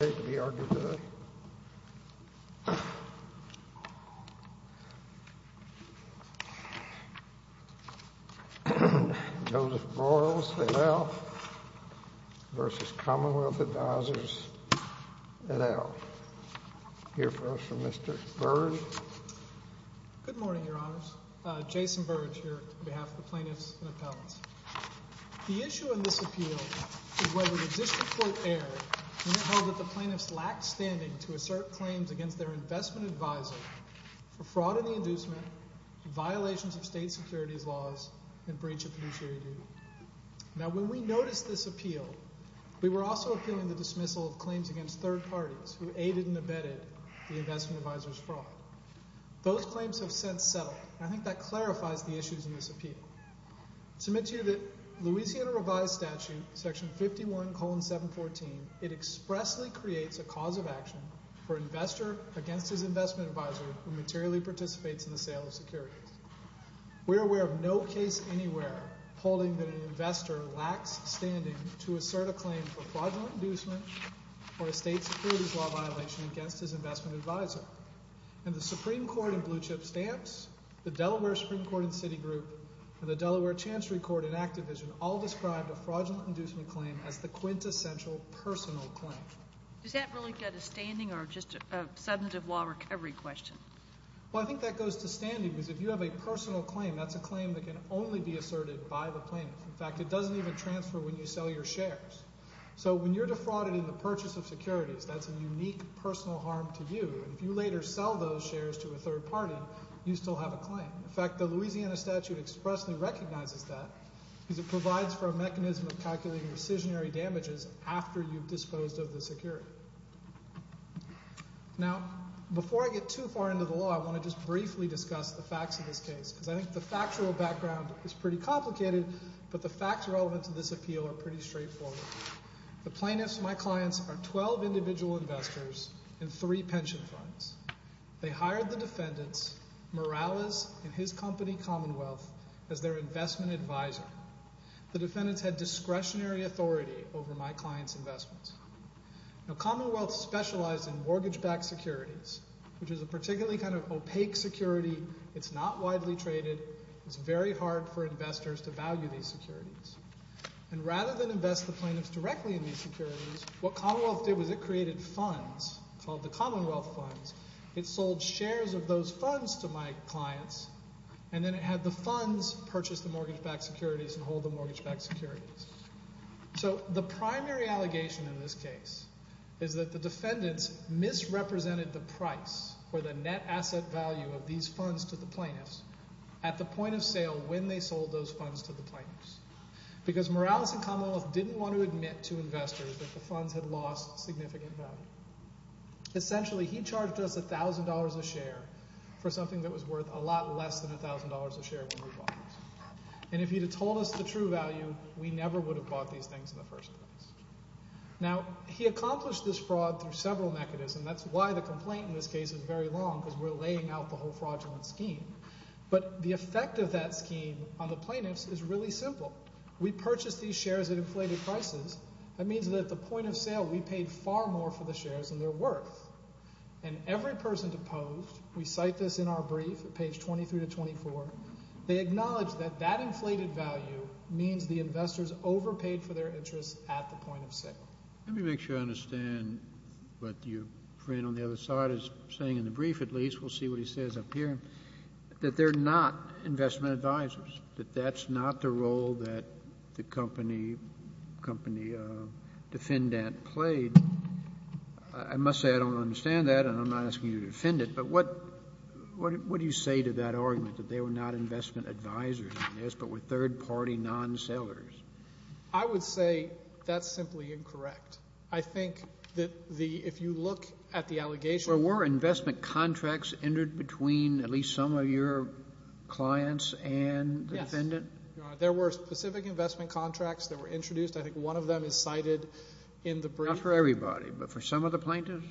The issue in this appeal is whether the District Court erred when it held that the plaintiffs lacked standing to assert claims against their investment advisor for fraud in the inducement, violations of state securities laws, and breach of fiduciary duty. Now when we noticed this appeal, we were also appealing the dismissal of claims against third parties who aided and abetted the investment advisor's fraud. Those claims have since settled, and I think that clarifies the issues in this appeal. I submit to you that Louisiana Revised Statute, section 51, colon 714, expressly creates a cause of action for an investor against his investment advisor who materially participates in the sale of securities. We are aware of no case anywhere holding that an investor lacks standing to assert a claim for fraudulent inducement or a state securities law violation against his investment advisor. And the Supreme Court in Blue Chip Stamps, the Delaware Supreme Court in Citigroup, and the Delaware Chancery Court in Activision all described a fraudulent inducement claim as the quintessential personal claim. Does that really get a standing or just a substantive law recovery question? Well, I think that goes to standing because if you have a personal claim, that's a claim that can only be asserted by the plaintiffs. In fact, it doesn't even transfer when you sell your shares. So when you're defrauded in the purchase of securities, that's a unique personal harm to you. And if you later sell those shares to a third party, you still have a claim. In fact, the Louisiana statute expressly recognizes that because it provides for a mechanism of calculating decisionary damages after you've disposed of the security. Now, before I get too far into the law, I want to just briefly discuss the facts of this case because I think the factual background is pretty complicated, but the facts relevant to this appeal are pretty straightforward. The plaintiffs, my clients, are 12 individual investors in three pension funds. They hired the defendants, Morales and his company, Commonwealth, as their investment advisor. The defendants had discretionary authority over my client's investments. Now, Commonwealth specialized in mortgage-backed securities, which is a particularly kind of opaque security. It's not widely traded. It's very hard for investors to value these securities. And rather than invest the plaintiffs directly in these securities, what Commonwealth did was it created funds called the Commonwealth Funds. It sold shares of those funds to my clients, and then it had the funds purchase the mortgage-backed securities and hold the mortgage-backed securities. So the primary allegation in this case is that the defendants misrepresented the price or the net asset value of these funds to the plaintiffs at the point of sale when they sold those funds to the plaintiffs. Because Morales and Commonwealth didn't want to admit to investors that the funds had lost significant value. Essentially, he charged us $1,000 a share for something that was worth a lot less than $1,000 a share when we bought it. And if he had told us the true value, we never would have bought these things in the first place. Now, he accomplished this fraud through several mechanisms. That's why the complaint in this case is very long because we're laying out the whole fraudulent scheme. But the effect of that scheme on the plaintiffs is really simple. We purchased these shares at inflated prices. That means that at the point of sale, we paid far more for the shares than they're worth. And every person deposed, we cite this in our brief at page 23 to 24. They acknowledge that that inflated value means the investors overpaid for their interests at the point of sale. Let me make sure I understand what your friend on the other side is saying in the brief at least. We'll see what he says up here. That they're not investment advisors, that that's not the role that the company defendant played. I must say I don't understand that, and I'm not asking you to defend it. But what do you say to that argument, that they were not investment advisors in this but were third-party non-sellers? I would say that's simply incorrect. I think that if you look at the allegation. Were investment contracts entered between at least some of your clients and the defendant? Yes, Your Honor. There were specific investment contracts that were introduced. I think one of them is cited in the brief. Not for everybody, but for some of the plaintiffs?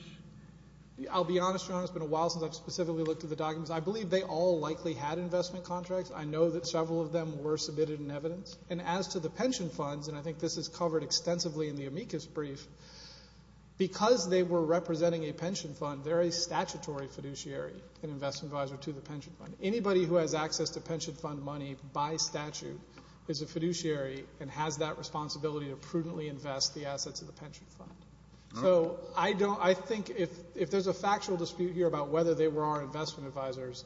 I'll be honest, Your Honor, it's been a while since I've specifically looked at the documents. I believe they all likely had investment contracts. I know that several of them were submitted in evidence. And as to the pension funds, and I think this is covered extensively in the amicus brief, because they were representing a pension fund, they're a statutory fiduciary and investment advisor to the pension fund. Anybody who has access to pension fund money by statute is a fiduciary and has that responsibility to prudently invest the assets of the pension fund. So I think if there's a factual dispute here about whether they were our investment advisors,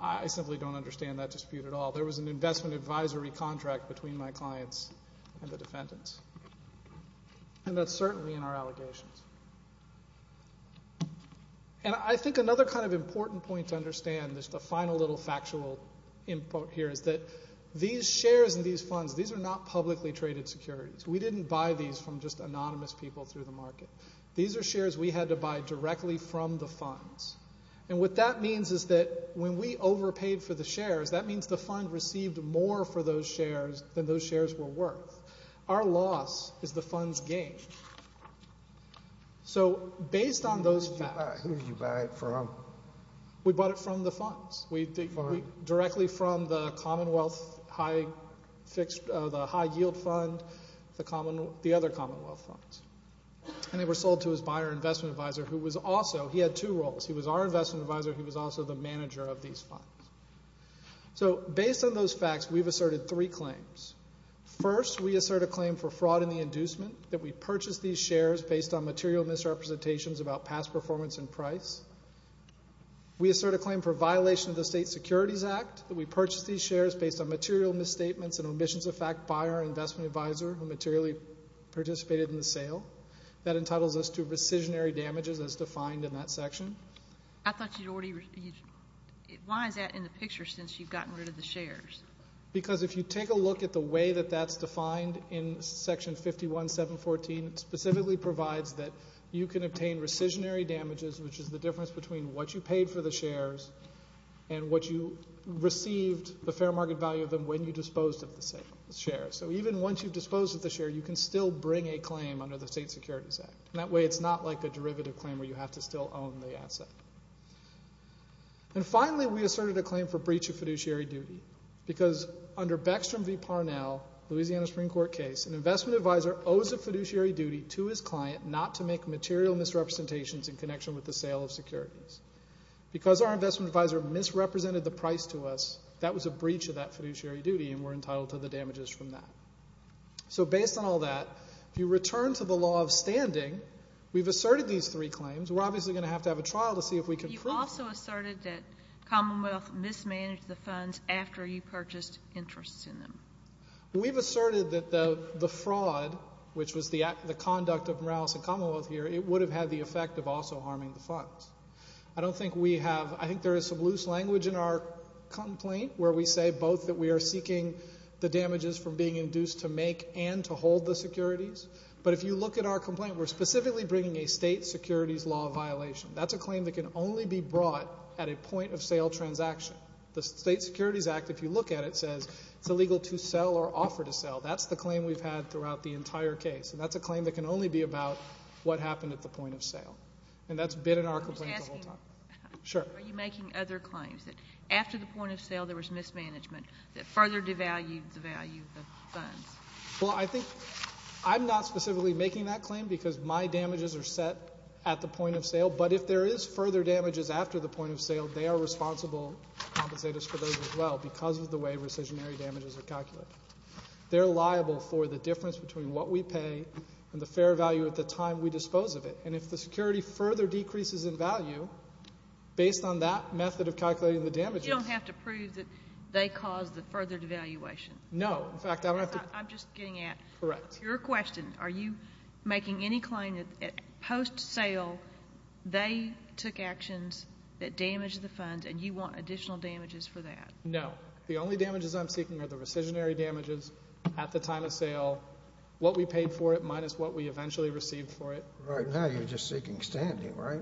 I simply don't understand that dispute at all. There was an investment advisory contract between my clients and the defendants. And that's certainly in our allegations. And I think another kind of important point to understand, just a final little factual input here, is that these shares and these funds, these are not publicly traded securities. We didn't buy these from just anonymous people through the market. These are shares we had to buy directly from the funds. And what that means is that when we overpaid for the shares, that means the fund received more for those shares than those shares were worth. Our loss is the fund's gain. So based on those facts. We bought it from the funds. Directly from the Commonwealth, the high-yield fund, the other Commonwealth funds. And they were sold to his buyer investment advisor who was also, he had two roles. He was our investment advisor. He was also the manager of these funds. So based on those facts, we've asserted three claims. First, we assert a claim for fraud in the inducement, that we purchased these shares based on material misrepresentations about past performance and price. We assert a claim for violation of the State Securities Act, that we purchased these shares based on material misstatements and omissions of fact by our investment advisor who materially participated in the sale. That entitles us to rescissionary damages as defined in that section. I thought you'd already, why is that in the picture since you've gotten rid of the shares? Because if you take a look at the way that that's defined in Section 51-714, it specifically provides that you can obtain rescissionary damages, which is the difference between what you paid for the shares and what you received, the fair market value of them, when you disposed of the shares. So even once you've disposed of the share, you can still bring a claim under the State Securities Act. That way it's not like a derivative claim where you have to still own the asset. And finally, we asserted a claim for breach of fiduciary duty because under Beckstrom v. Parnell, Louisiana Supreme Court case, an investment advisor owes a fiduciary duty to his client not to make material misrepresentations in connection with the sale of securities. Because our investment advisor misrepresented the price to us, that was a breach of that fiduciary duty and we're entitled to the damages from that. So based on all that, if you return to the law of standing, we've asserted these three claims. We're obviously going to have to have a trial to see if we can prove them. You also asserted that Commonwealth mismanaged the funds after you purchased interests in them. We've asserted that the fraud, which was the conduct of Morales and Commonwealth here, it would have had the effect of also harming the funds. I don't think we have – I think there is some loose language in our complaint where we say both that we are seeking the damages from being induced to make and to hold the securities. But if you look at our complaint, we're specifically bringing a state securities law violation. That's a claim that can only be brought at a point of sale transaction. The state securities act, if you look at it, says it's illegal to sell or offer to sell. That's the claim we've had throughout the entire case. And that's a claim that can only be about what happened at the point of sale. And that's been in our complaint the whole time. Are you making other claims that after the point of sale there was mismanagement, that further devalued the value of the funds? Well, I think I'm not specifically making that claim because my damages are set at the point of sale. But if there is further damages after the point of sale, they are responsible compensators for those as well because of the way recisionary damages are calculated. They're liable for the difference between what we pay and the fair value at the time we dispose of it. And if the security further decreases in value, based on that method of calculating the damages – You don't have to prove that they caused the further devaluation. No. In fact, I don't have to – I'm just getting at – Correct. Your question, are you making any claim that post-sale they took actions that damaged the funds and you want additional damages for that? No. The only damages I'm seeking are the recisionary damages at the time of sale, what we paid for it minus what we eventually received for it. Right now you're just seeking standing, right?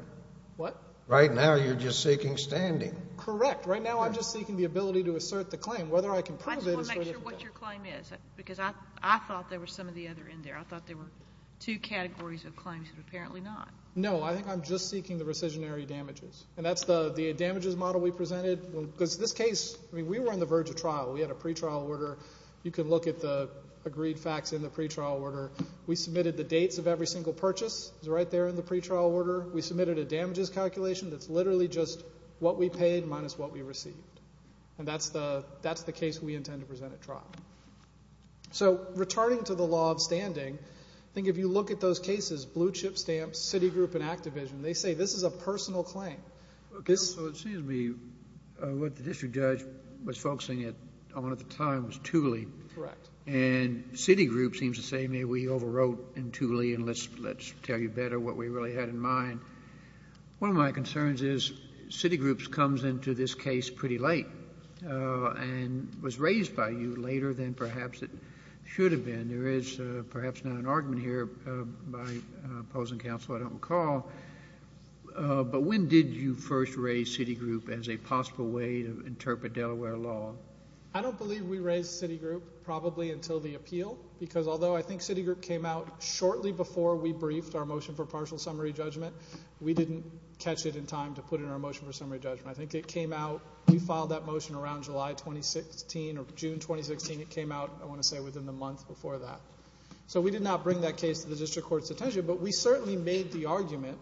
What? Right now you're just seeking standing. Correct. Right now I'm just seeking the ability to assert the claim. Whether I can prove it is for the – I just want to make sure what your claim is, because I thought there were some of the other in there. I thought there were two categories of claims, but apparently not. No. I think I'm just seeking the recisionary damages. And that's the damages model we presented. Because this case – I mean, we were on the verge of trial. We had a pretrial order. You can look at the agreed facts in the pretrial order. We submitted the dates of every single purchase. It's right there in the pretrial order. We submitted a damages calculation that's literally just what we paid minus what we received. And that's the case we intend to present at trial. So, returning to the law of standing, I think if you look at those cases, Blue Chip Stamps, Citigroup, and Activision, they say this is a personal claim. Okay, so it seems to me what the district judge was focusing on at the time was Thule. Correct. And Citigroup seems to say, maybe we overwrote in Thule, and let's tell you better what we really had in mind. One of my concerns is Citigroup comes into this case pretty late and was raised by you later than perhaps it should have been. There is perhaps not an argument here by opposing counsel, I don't recall. But when did you first raise Citigroup as a possible way to interpret Delaware law? I don't believe we raised Citigroup probably until the appeal. Because although I think Citigroup came out shortly before we briefed our motion for partial summary judgment, we didn't catch it in time to put in our motion for summary judgment. I think it came out, we filed that motion around July 2016 or June 2016. It came out, I want to say, within the month before that. So we did not bring that case to the district court's attention, but we certainly made the argument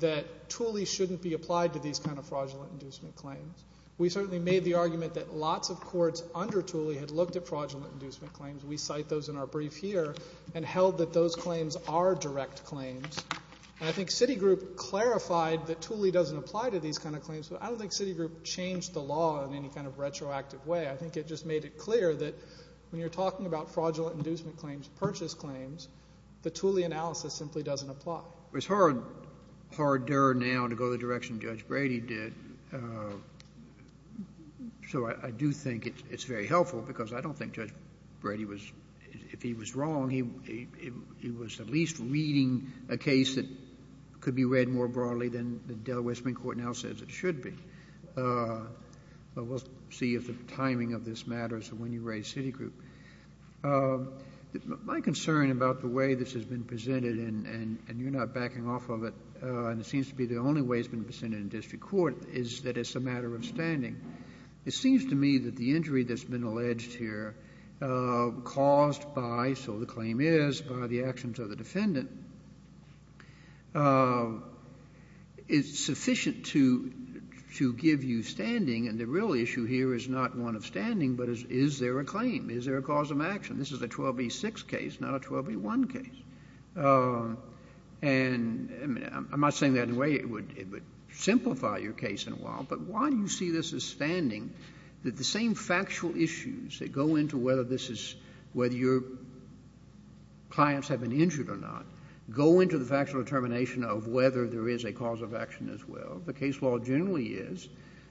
that Thule shouldn't be applied to these kind of fraudulent inducement claims. We certainly made the argument that lots of courts under Thule had looked at fraudulent inducement claims. We cite those in our brief here and held that those claims are direct claims. And I think Citigroup clarified that Thule doesn't apply to these kind of claims, but I don't think Citigroup changed the law in any kind of retroactive way. I think it just made it clear that when you're talking about fraudulent inducement claims, purchase claims, the Thule analysis simply doesn't apply. It's hard now to go the direction Judge Brady did. So I do think it's very helpful because I don't think Judge Brady was, if he was wrong, he was at least reading a case that could be read more broadly than the Delaware Supreme Court now says it should be. But we'll see if the timing of this matters when you raise Citigroup. My concern about the way this has been presented, and you're not backing off of it, and it seems to be the only way it's been presented in district court, is that it's a matter of standing. It seems to me that the injury that's been alleged here caused by, so the claim is, by the actions of the defendant, is sufficient to give you standing, and the real issue here is not one of standing, but is there a claim? Is there a cause of action? This is a 12b6 case, not a 12b1 case. And I'm not saying that in a way it would simplify your case in a while, but why do you see this as standing, that the same factual issues that go into whether this is, whether your clients have been injured or not, go into the factual determination of whether there is a cause of action as well? The case law generally is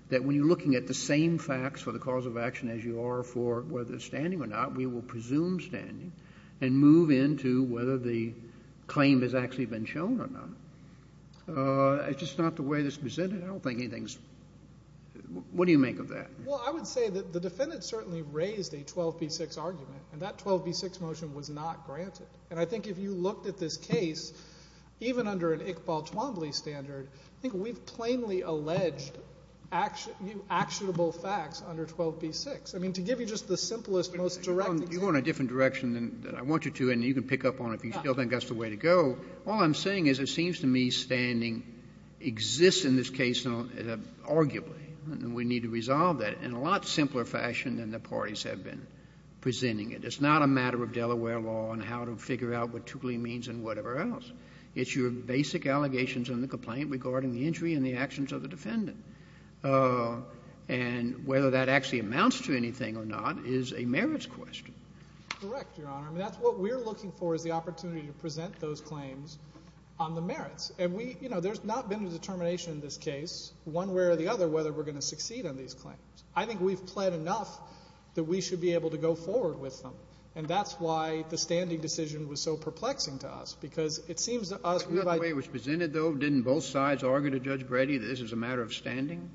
that when you're looking at the same facts for the cause of action as you are for whether it's standing or not, we will presume standing and move into whether the claim has actually been shown or not. It's just not the way it's presented. I don't think anything's – what do you make of that? Well, I would say that the defendant certainly raised a 12b6 argument, and that 12b6 motion was not granted. And I think if you looked at this case, even under an Iqbal Twombly standard, I think we've plainly alleged actionable facts under 12b6. I mean, to give you just the simplest, most direct example. You're going a different direction than I want you to, and you can pick up on it if you still think that's the way to go. All I'm saying is it seems to me standing exists in this case arguably, and we need to resolve that in a lot simpler fashion than the parties have been presenting it. It's not a matter of Delaware law and how to figure out what Twombly means and whatever else. It's your basic allegations in the complaint regarding the injury and the actions of the defendant. And whether that actually amounts to anything or not is a merits question. Correct, Your Honor. I mean, that's what we're looking for is the opportunity to present those claims on the merits. And we – you know, there's not been a determination in this case, one way or the other, whether we're going to succeed on these claims. I think we've pled enough that we should be able to go forward with them. And that's why the standing decision was so perplexing to us, because it seems to us we might – Didn't both sides argue to Judge Brady that this is a matter of standing?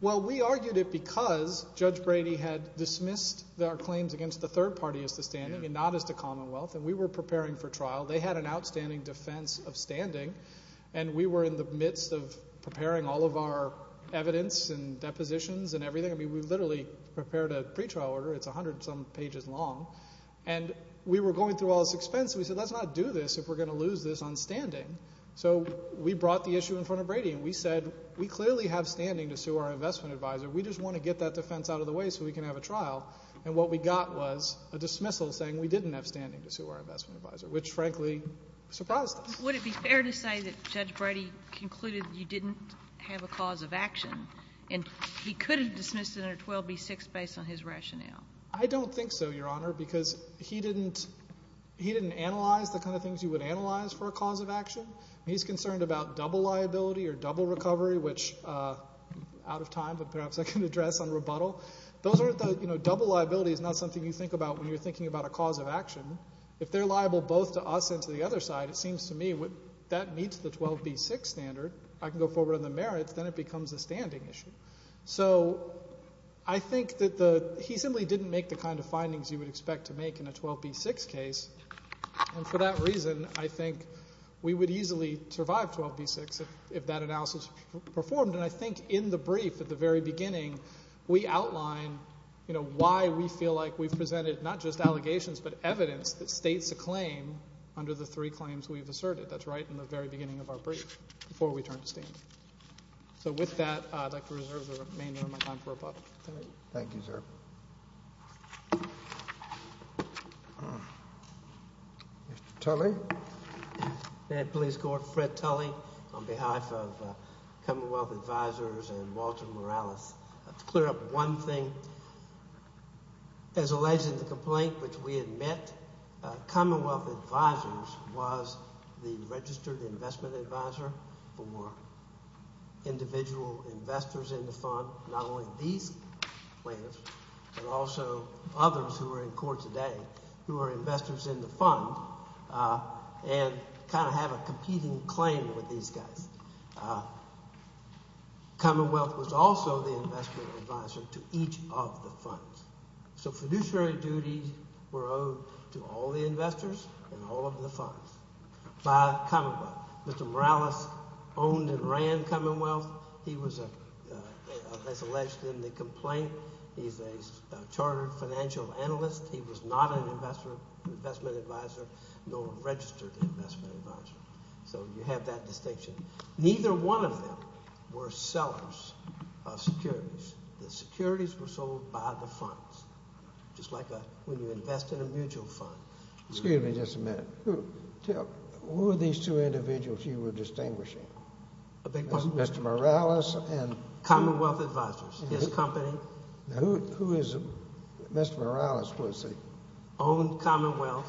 Well, we argued it because Judge Brady had dismissed our claims against the third party as to standing and not as to commonwealth. And we were preparing for trial. They had an outstanding defense of standing, and we were in the midst of preparing all of our evidence and depositions and everything. I mean, we literally prepared a pretrial order. It's 100-some pages long. And we were going through all this expense, and we said let's not do this if we're going to lose this on standing. So we brought the issue in front of Brady, and we said we clearly have standing to sue our investment advisor. We just want to get that defense out of the way so we can have a trial. And what we got was a dismissal saying we didn't have standing to sue our investment advisor, which, frankly, surprised us. Would it be fair to say that Judge Brady concluded you didn't have a cause of action, and he could have dismissed it under 12b-6 based on his rationale? I don't think so, Your Honor, because he didn't analyze the kind of things you would analyze for a cause of action. He's concerned about double liability or double recovery, which out of time, but perhaps I can address on rebuttal. Those are the, you know, double liability is not something you think about when you're thinking about a cause of action. If they're liable both to us and to the other side, it seems to me that meets the 12b-6 standard. I can go forward on the merits. Then it becomes a standing issue. So I think that he simply didn't make the kind of findings you would expect to make in a 12b-6 case. And for that reason, I think we would easily survive 12b-6 if that analysis performed. And I think in the brief at the very beginning, we outline, you know, why we feel like we've presented not just allegations but evidence that states a claim under the three claims we've asserted. That's right in the very beginning of our brief before we turned to stand. So with that, I'd like to reserve the remainder of my time for rebuttal. Thank you, sir. Mr. Tully. May I please go to Fred Tully on behalf of Commonwealth Advisors and Walter Morales. To clear up one thing, as alleged in the complaint which we had met, Commonwealth Advisors was the registered investment advisor for individual investors in the fund, not only these players but also others who are in court today who are investors in the fund and kind of have a competing claim with these guys. Commonwealth was also the investment advisor to each of the funds. So fiduciary duties were owed to all the investors and all of the funds by Commonwealth. Mr. Morales owned and ran Commonwealth. He was, as alleged in the complaint, he's a chartered financial analyst. He was not an investment advisor nor a registered investment advisor. So you have that distinction. Neither one of them were sellers of securities. The securities were sold by the funds, just like when you invest in a mutual fund. Excuse me just a minute. Who were these two individuals you were distinguishing? Mr. Morales and… Commonwealth Advisors, his company. Who is Mr. Morales? Owned Commonwealth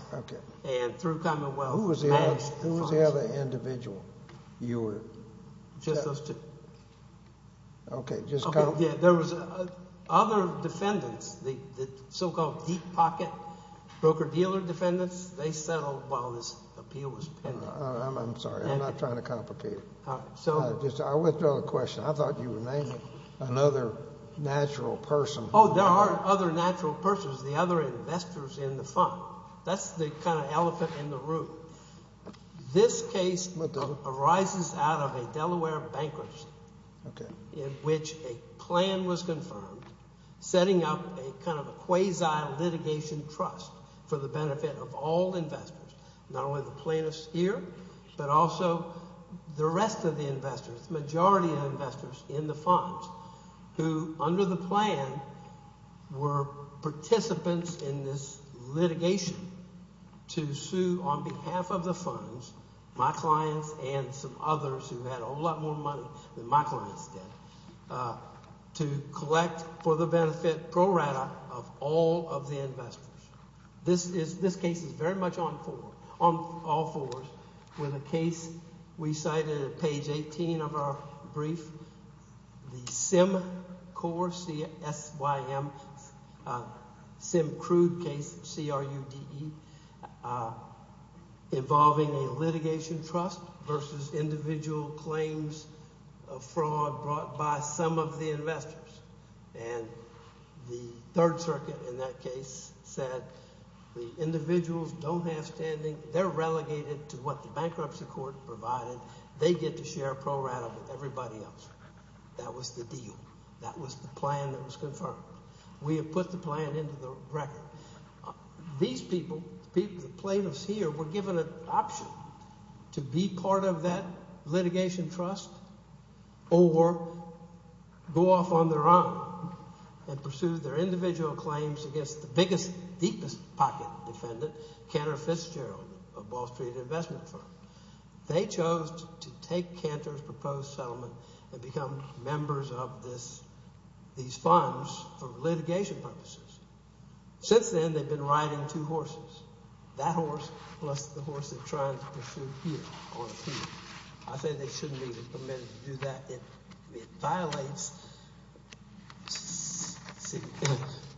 and through Commonwealth. Who was the other individual you were? Just those two. Okay. There was other defendants, the so-called deep pocket broker-dealer defendants. They settled while this appeal was pending. I'm sorry. I'm not trying to complicate it. I withdraw the question. I thought you were naming another natural person. Oh, there are other natural persons, the other investors in the fund. That's the kind of elephant in the room. This case arises out of a Delaware bankruptcy in which a plan was confirmed, setting up a kind of a quasi-litigation trust for the benefit of all investors, not only the plaintiffs here but also the rest of the investors, the majority of investors in the funds, who under the plan were participants in this litigation to sue on behalf of the funds, my clients and some others who had a whole lot more money than my clients did, to collect for the benefit pro rata of all of the investors. This case is very much on all fours. With a case we cited at page 18 of our brief, the Sim Crude case, C-R-U-D-E, involving a litigation trust versus individual claims of fraud brought by some of the investors. And the Third Circuit in that case said the individuals don't have standing. They're relegated to what the bankruptcy court provided. They get to share pro rata with everybody else. That was the deal. That was the plan that was confirmed. We have put the plan into the record. These people, the plaintiffs here, were given an option to be part of that litigation trust or go off on their own and pursue their individual claims against the biggest, deepest pocket defendant, Cantor Fitzgerald, a Wall Street investment firm. They chose to take Cantor's proposed settlement and become members of these funds for litigation purposes. Since then, they've been riding two horses, that horse plus the horse they're trying to pursue here on appeal. I say they shouldn't be permitted to do that. It violates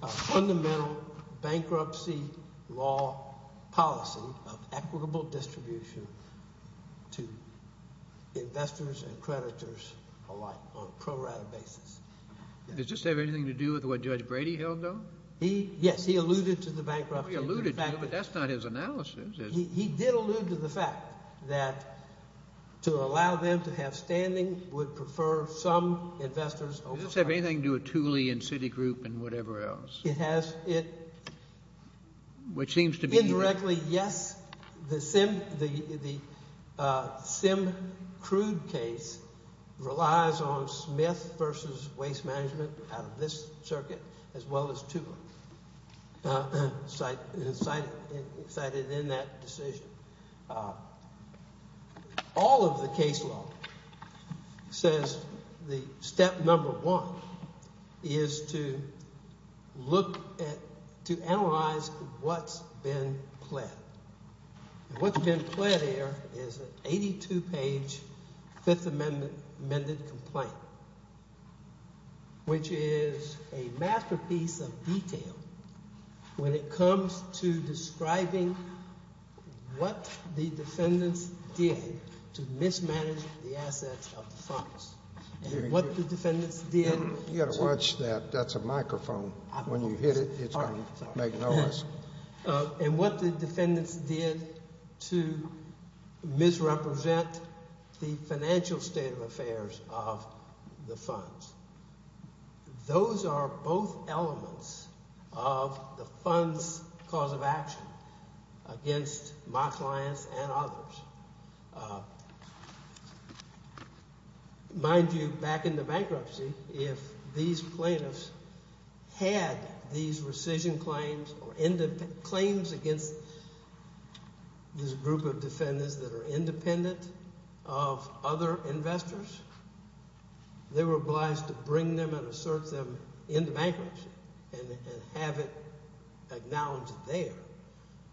a fundamental bankruptcy law policy of equitable distribution to investors and creditors alike on a pro rata basis. Does this have anything to do with what Judge Brady held, though? Yes, he alluded to the bankruptcy. He alluded to it, but that's not his analysis. He did allude to the fact that to allow them to have standing would prefer some investors over others. Does this have anything to do with Tooley and Citigroup and whatever else? It has. Which seems to be – Indirectly, yes. The Simm-Crude case relies on Smith v. Waste Management out of this circuit as well as Tooley, cited in that decision. All of the case law says the step number one is to look at – to analyze what's been pled. What's been pled here is an 82-page Fifth Amendment amended complaint, which is a masterpiece of detail when it comes to describing what the defendants did to mismanage the assets of the funds. And what the defendants did – You've got to watch that. That's a microphone. When you hit it, it's going to make noise. And what the defendants did to misrepresent the financial state of affairs of the funds. Those are both elements of the funds' cause of action against my clients and others. Mind you, back in the bankruptcy, if these plaintiffs had these rescission claims or claims against this group of defendants that are independent of other investors, they were obliged to bring them and assert them into bankruptcy and have it acknowledged there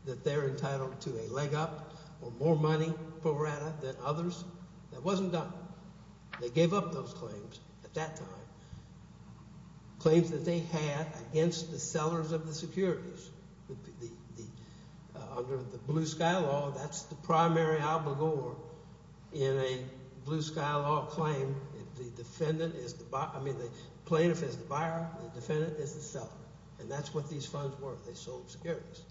that they're entitled to a leg up or more money pro rata than others. That wasn't done. They gave up those claims at that time. Claims that they had against the sellers of the securities. Under the Blue Sky Law, that's the primary obligor in a Blue Sky Law claim. The plaintiff is the buyer. The defendant is the seller. And that's what these funds were. They sold securities.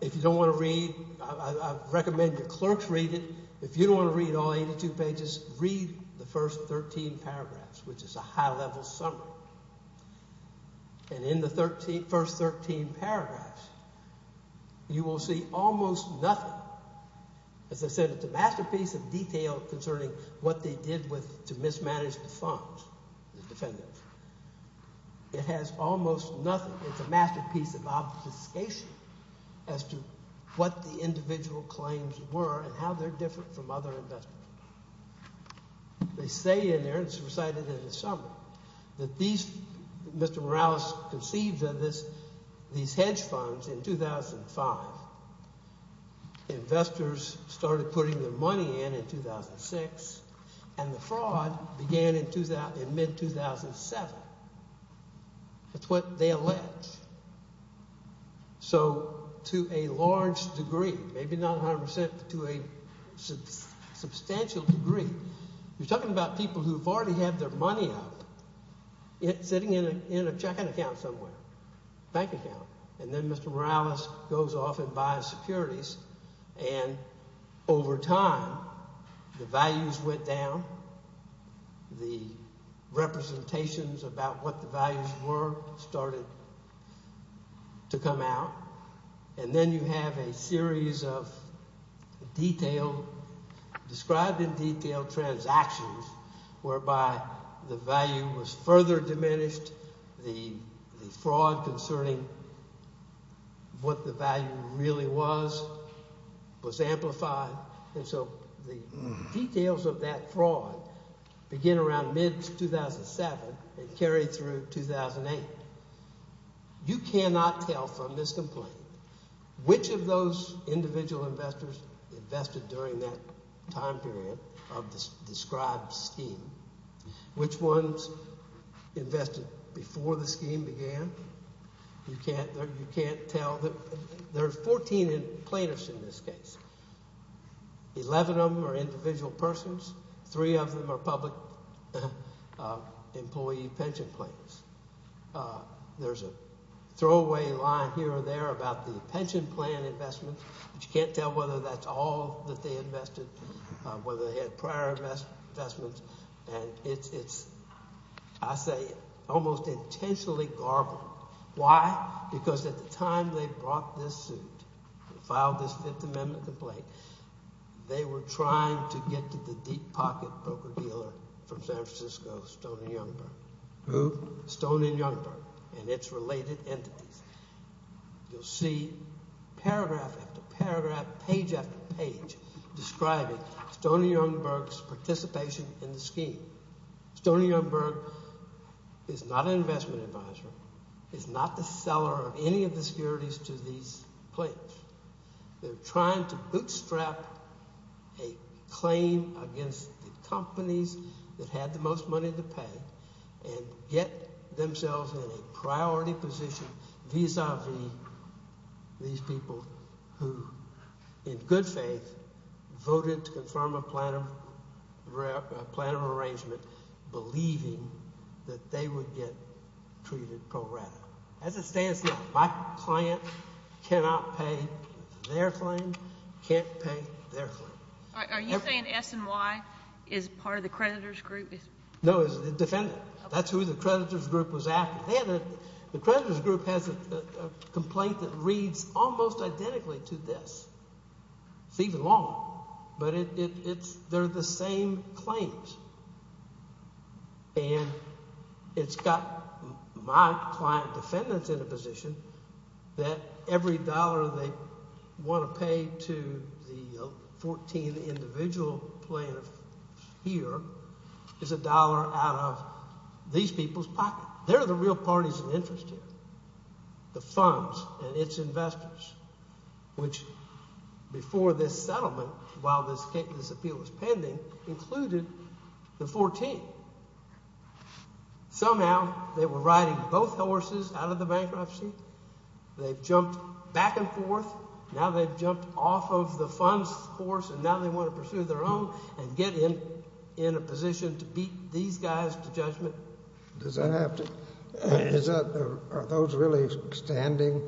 If you don't want to read, I recommend your clerks read it. If you don't want to read all 82 pages, read the first 13 paragraphs, which is a high level summary. And in the first 13 paragraphs, you will see almost nothing. As I said, it's a masterpiece of detail concerning what they did to mismanage the funds, the defendants. It has almost nothing. It's a masterpiece of obfuscation as to what the individual claims were and how they're different from other investments. They say in there, it's recited in the summary, that these, Mr. Morales conceived of these hedge funds in 2005. Investors started putting their money in in 2006. And the fraud began in mid-2007. That's what they allege. So to a large degree, maybe not 100%, but to a substantial degree, you're talking about people who've already had their money out, sitting in a checking account somewhere, a bank account. And then Mr. Morales goes off and buys securities. And over time, the values went down. The representations about what the values were started to come out. And then you have a series of detailed, described in detail transactions whereby the value was further diminished. The fraud concerning what the value really was was amplified. And so the details of that fraud begin around mid-2007 and carry through 2008. You cannot tell from this complaint which of those individual investors invested during that time period of the described scheme, which ones invested before the scheme began. You can't tell. There are 14 plaintiffs in this case. Eleven of them are individual persons. Three of them are public employee pension plans. There's a throwaway line here or there about the pension plan investment. But you can't tell whether that's all that they invested, whether they had prior investments. And it's, I say, almost intentionally garbled. Why? Because at the time they brought this suit and filed this Fifth Amendment complaint, they were trying to get to the deep pocket broker dealer from San Francisco, Stone and Youngberg. Who? Stone and Youngberg and its related entities. You'll see paragraph after paragraph, page after page describing Stone and Youngberg's participation in the scheme. Stone and Youngberg is not an investment advisor, is not the seller of any of the securities to these plaintiffs. They're trying to bootstrap a claim against the companies that had the most money to pay and get themselves in a priority position vis-a-vis these people who, in good faith, voted to confirm a plan of arrangement, believing that they would get treated pro rata. As it stands now, my client cannot pay their claim, can't pay their claim. Are you saying S&Y is part of the creditor's group? No, it's the defendant. That's who the creditor's group was after. The creditor's group has a complaint that reads almost identically to this. It's even longer. But it's, they're the same claims. And it's got my client defendants in a position that every dollar they want to pay to the 14th individual plaintiff here is a dollar out of these people's pocket. They're the real parties of interest here. The funds and its investors, which before this settlement, while this appeal was pending, included the 14th. Somehow they were riding both horses out of the bankruptcy. They've jumped back and forth. Now they've jumped off of the funds horse, and now they want to pursue their own and get in a position to beat these guys to judgment. Does that have to, are those really standing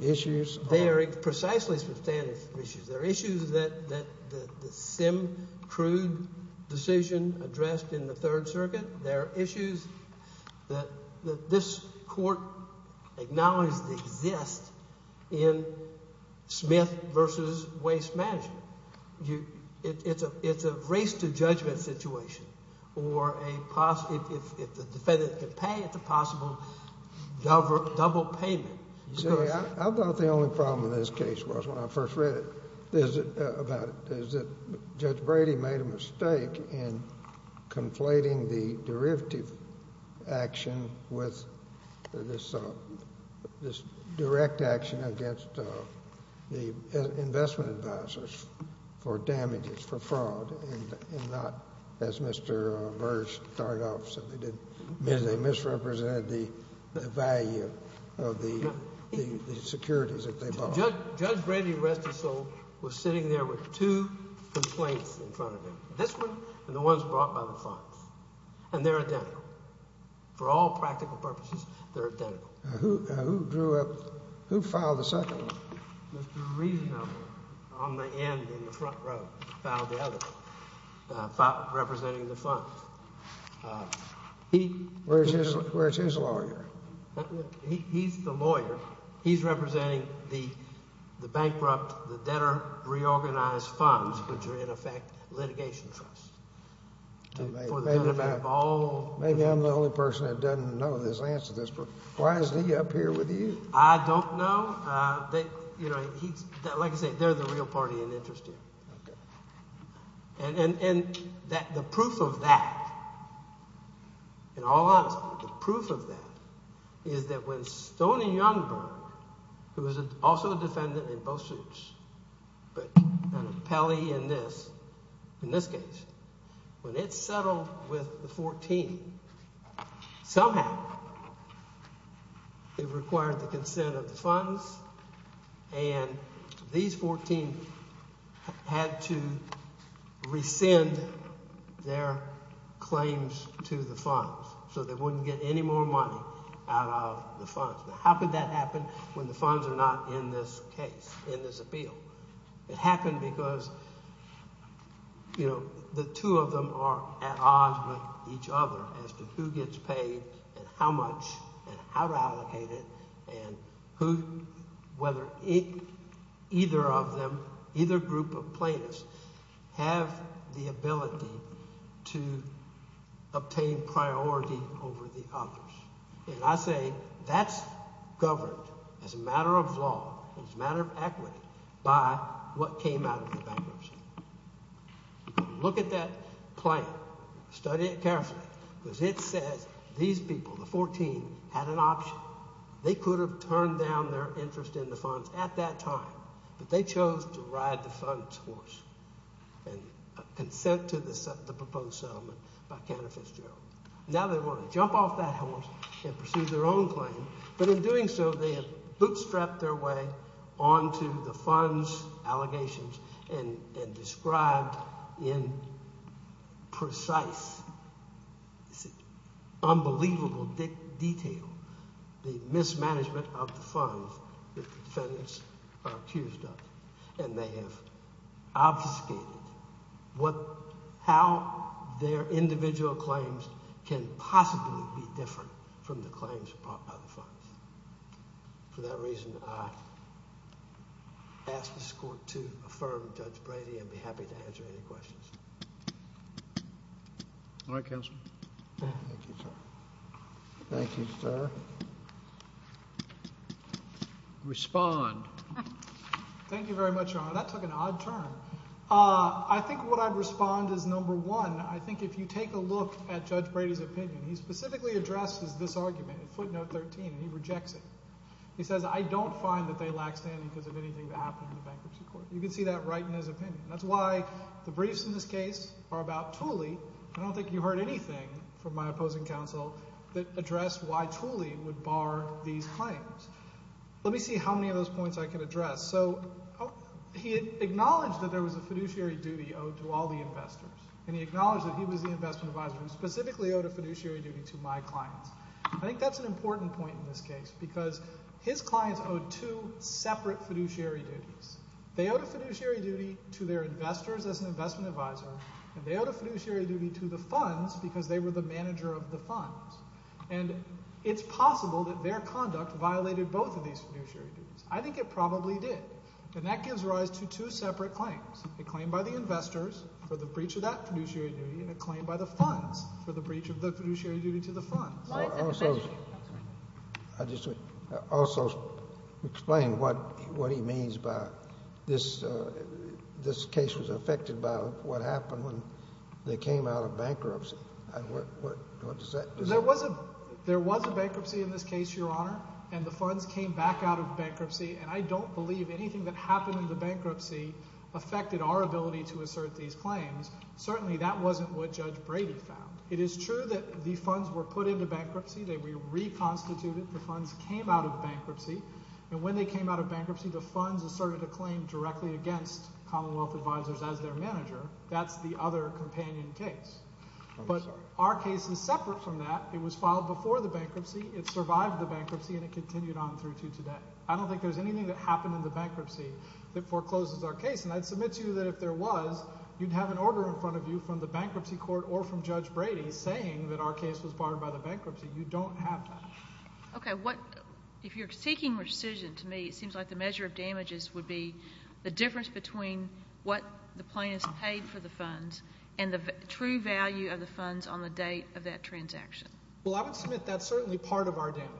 issues? They are precisely standing issues. They're issues that the Sim crude decision addressed in the Third Circuit. They're issues that this court acknowledged exist in Smith v. Waste Management. It's a race to judgment situation. Or a, if the defendant can pay, it's a possible double payment. See, I thought the only problem in this case was when I first read it, about it, is that Judge Brady made a mistake in conflating the derivative action with this direct action against the investment advisors for damages, for fraud, and not, as Mr. Burge started off, they misrepresented the value of the securities that they bought. Judge Brady, rest his soul, was sitting there with two complaints in front of him. This one and the ones brought by the funds. And they're identical. For all practical purposes, they're identical. Now who drew up, who filed the second one? Mr. Reasonable on the end in the front row filed the other one, representing the funds. Where's his lawyer? He's the lawyer. He's representing the bankrupt, the debtor reorganized funds, which are, in effect, litigation trusts. Maybe I'm the only person that doesn't know the answer to this. Why is he up here with you? I don't know. Like I say, they're the real party in interest here. Okay. And the proof of that, in all honesty, the proof of that is that when Stoney Youngberg, who was also a defendant in both suits, but Pelley in this, in this case, when it settled with the 14, somehow it required the consent of the funds, and these 14 had to rescind their claims to the funds so they wouldn't get any more money out of the funds. How could that happen when the funds are not in this case, in this appeal? It happened because, you know, the two of them are at odds with each other as to who gets paid and how much and how to allocate it and who, whether either of them, either group of plaintiffs, have the ability to obtain priority over the others. And I say that's governed as a matter of law, as a matter of equity, by what came out of the bankruptcy. Look at that plan. Study it carefully because it says these people, the 14, had an option. They could have turned down their interest in the funds at that time, but they chose to ride the funds horse and consent to the proposed settlement by Canada Fitzgerald. Now they want to jump off that horse and pursue their own claim, but in doing so they have bootstrapped their way onto the funds allegations and described in precise, unbelievable detail the mismanagement of the funds that the defendants are accused of. And they have obfuscated how their individual claims can possibly be different from the claims brought by the funds. For that reason, I ask this Court to affirm Judge Brady and be happy to answer any questions. All right, Counselor. Thank you, sir. Thank you, sir. Respond. Thank you very much, Your Honor. That took an odd turn. I think what I'd respond is, number one, I think if you take a look at Judge Brady's opinion, he specifically addresses this argument at footnote 13, and he rejects it. He says, I don't find that they lack standing because of anything that happened in the bankruptcy court. You can see that right in his opinion. That's why the briefs in this case are about Tooley. I don't think you heard anything from my opposing counsel that addressed why Tooley would bar these claims. Let me see how many of those points I can address. So he acknowledged that there was a fiduciary duty owed to all the investors, and he acknowledged that he was the investment advisor who specifically owed a fiduciary duty to my clients. I think that's an important point in this case because his clients owed two separate fiduciary duties. They owed a fiduciary duty to their investors as an investment advisor, and they owed a fiduciary duty to the funds because they were the manager of the funds. And it's possible that their conduct violated both of these fiduciary duties. I think it probably did. And that gives rise to two separate claims, a claim by the investors for the breach of that fiduciary duty and a claim by the funds for the breach of the fiduciary duty to the funds. Also, explain what he means by this case was affected by what happened when they came out of bankruptcy. There was a bankruptcy in this case, Your Honor, and the funds came back out of bankruptcy. And I don't believe anything that happened in the bankruptcy affected our ability to assert these claims. Certainly that wasn't what Judge Brady found. It is true that the funds were put into bankruptcy. They were reconstituted. The funds came out of bankruptcy. And when they came out of bankruptcy, the funds asserted a claim directly against Commonwealth Advisors as their manager. That's the other companion case. But our case is separate from that. It was filed before the bankruptcy. It survived the bankruptcy, and it continued on through to today. I don't think there's anything that happened in the bankruptcy that forecloses our case. And I'd submit to you that if there was, you'd have an order in front of you from the bankruptcy court or from Judge Brady saying that our case was barred by the bankruptcy. You don't have that. Okay. If you're seeking rescission, to me it seems like the measure of damages would be the difference between what the plaintiff paid for the funds and the true value of the funds on the date of that transaction. Well, I would submit that's certainly part of our damages.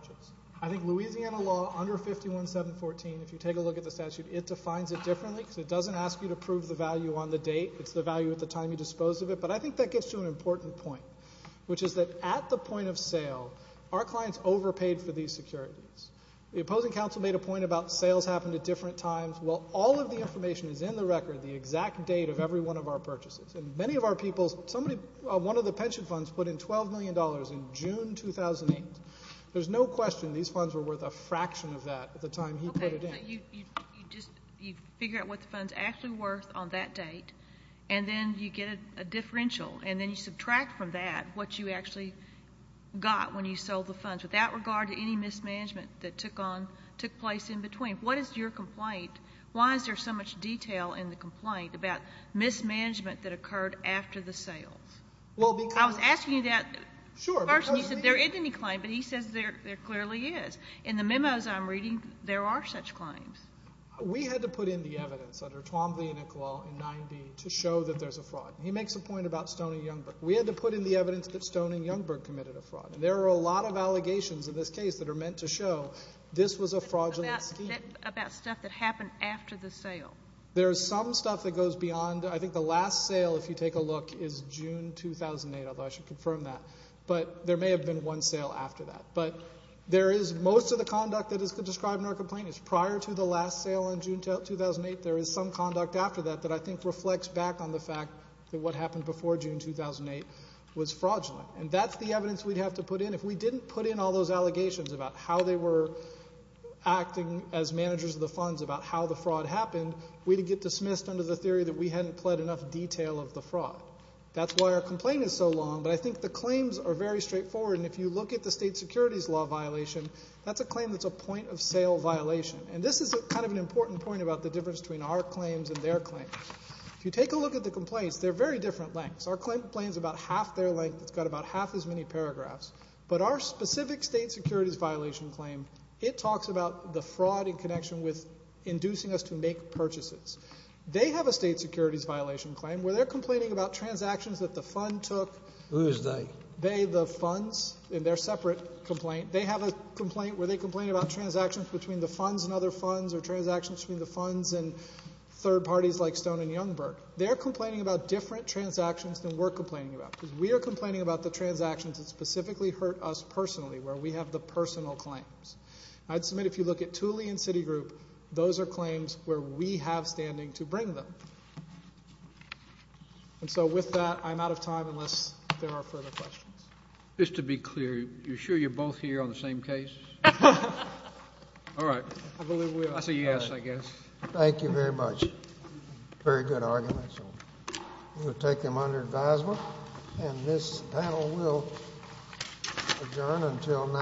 I think Louisiana law under 51714, if you take a look at the statute, it defines it differently because it doesn't ask you to prove the value on the date. It's the value at the time you dispose of it. But I think that gets to an important point, which is that at the point of sale, our clients overpaid for these securities. The opposing counsel made a point about sales happened at different times. Well, all of the information is in the record, the exact date of every one of our purchases. And many of our people, somebody, one of the pension funds put in $12 million in June 2008. There's no question these funds were worth a fraction of that at the time he put it in. Okay. So you just figure out what the fund's actually worth on that date, and then you get a differential, and then you subtract from that what you actually got when you sold the funds, without regard to any mismanagement that took place in between. What is your complaint? Why is there so much detail in the complaint about mismanagement that occurred after the sales? I was asking that person. He said there isn't any claim, but he says there clearly is. In the memos I'm reading, there are such claims. We had to put in the evidence under Twombly and Iqbal in 9b to show that there's a fraud. He makes a point about Stone and Youngberg. There are a lot of allegations in this case that are meant to show this was a fraudulent scheme. About stuff that happened after the sale. There is some stuff that goes beyond. I think the last sale, if you take a look, is June 2008, although I should confirm that. But there may have been one sale after that. But there is most of the conduct that is described in our complaint is prior to the last sale in June 2008, there is some conduct after that that I think reflects back on the fact that what happened before June 2008 was fraudulent. And that's the evidence we'd have to put in. If we didn't put in all those allegations about how they were acting as managers of the funds, about how the fraud happened, we'd get dismissed under the theory that we hadn't pled enough detail of the fraud. That's why our complaint is so long, but I think the claims are very straightforward. And if you look at the state securities law violation, that's a claim that's a point-of-sale violation. And this is kind of an important point about the difference between our claims and their claims. If you take a look at the complaints, they're very different lengths. Our complaint is about half their length. It's got about half as many paragraphs. But our specific state securities violation claim, it talks about the fraud in connection with inducing us to make purchases. They have a state securities violation claim where they're complaining about transactions that the fund took. Who is they? They, the funds. And they're a separate complaint. They have a complaint where they complain about transactions between the funds and other funds or transactions between the funds and third parties like Stone and Youngberg. They're complaining about different transactions than we're complaining about because we are complaining about the transactions that specifically hurt us personally, where we have the personal claims. I'd submit if you look at Tooley and Citigroup, those are claims where we have standing to bring them. And so with that, I'm out of time unless there are further questions. Just to be clear, you're sure you're both here on the same case? All right. I believe we are. That's a yes, I guess. Thank you very much. Very good argument. We'll take them under advisement. And this panel will adjourn until now.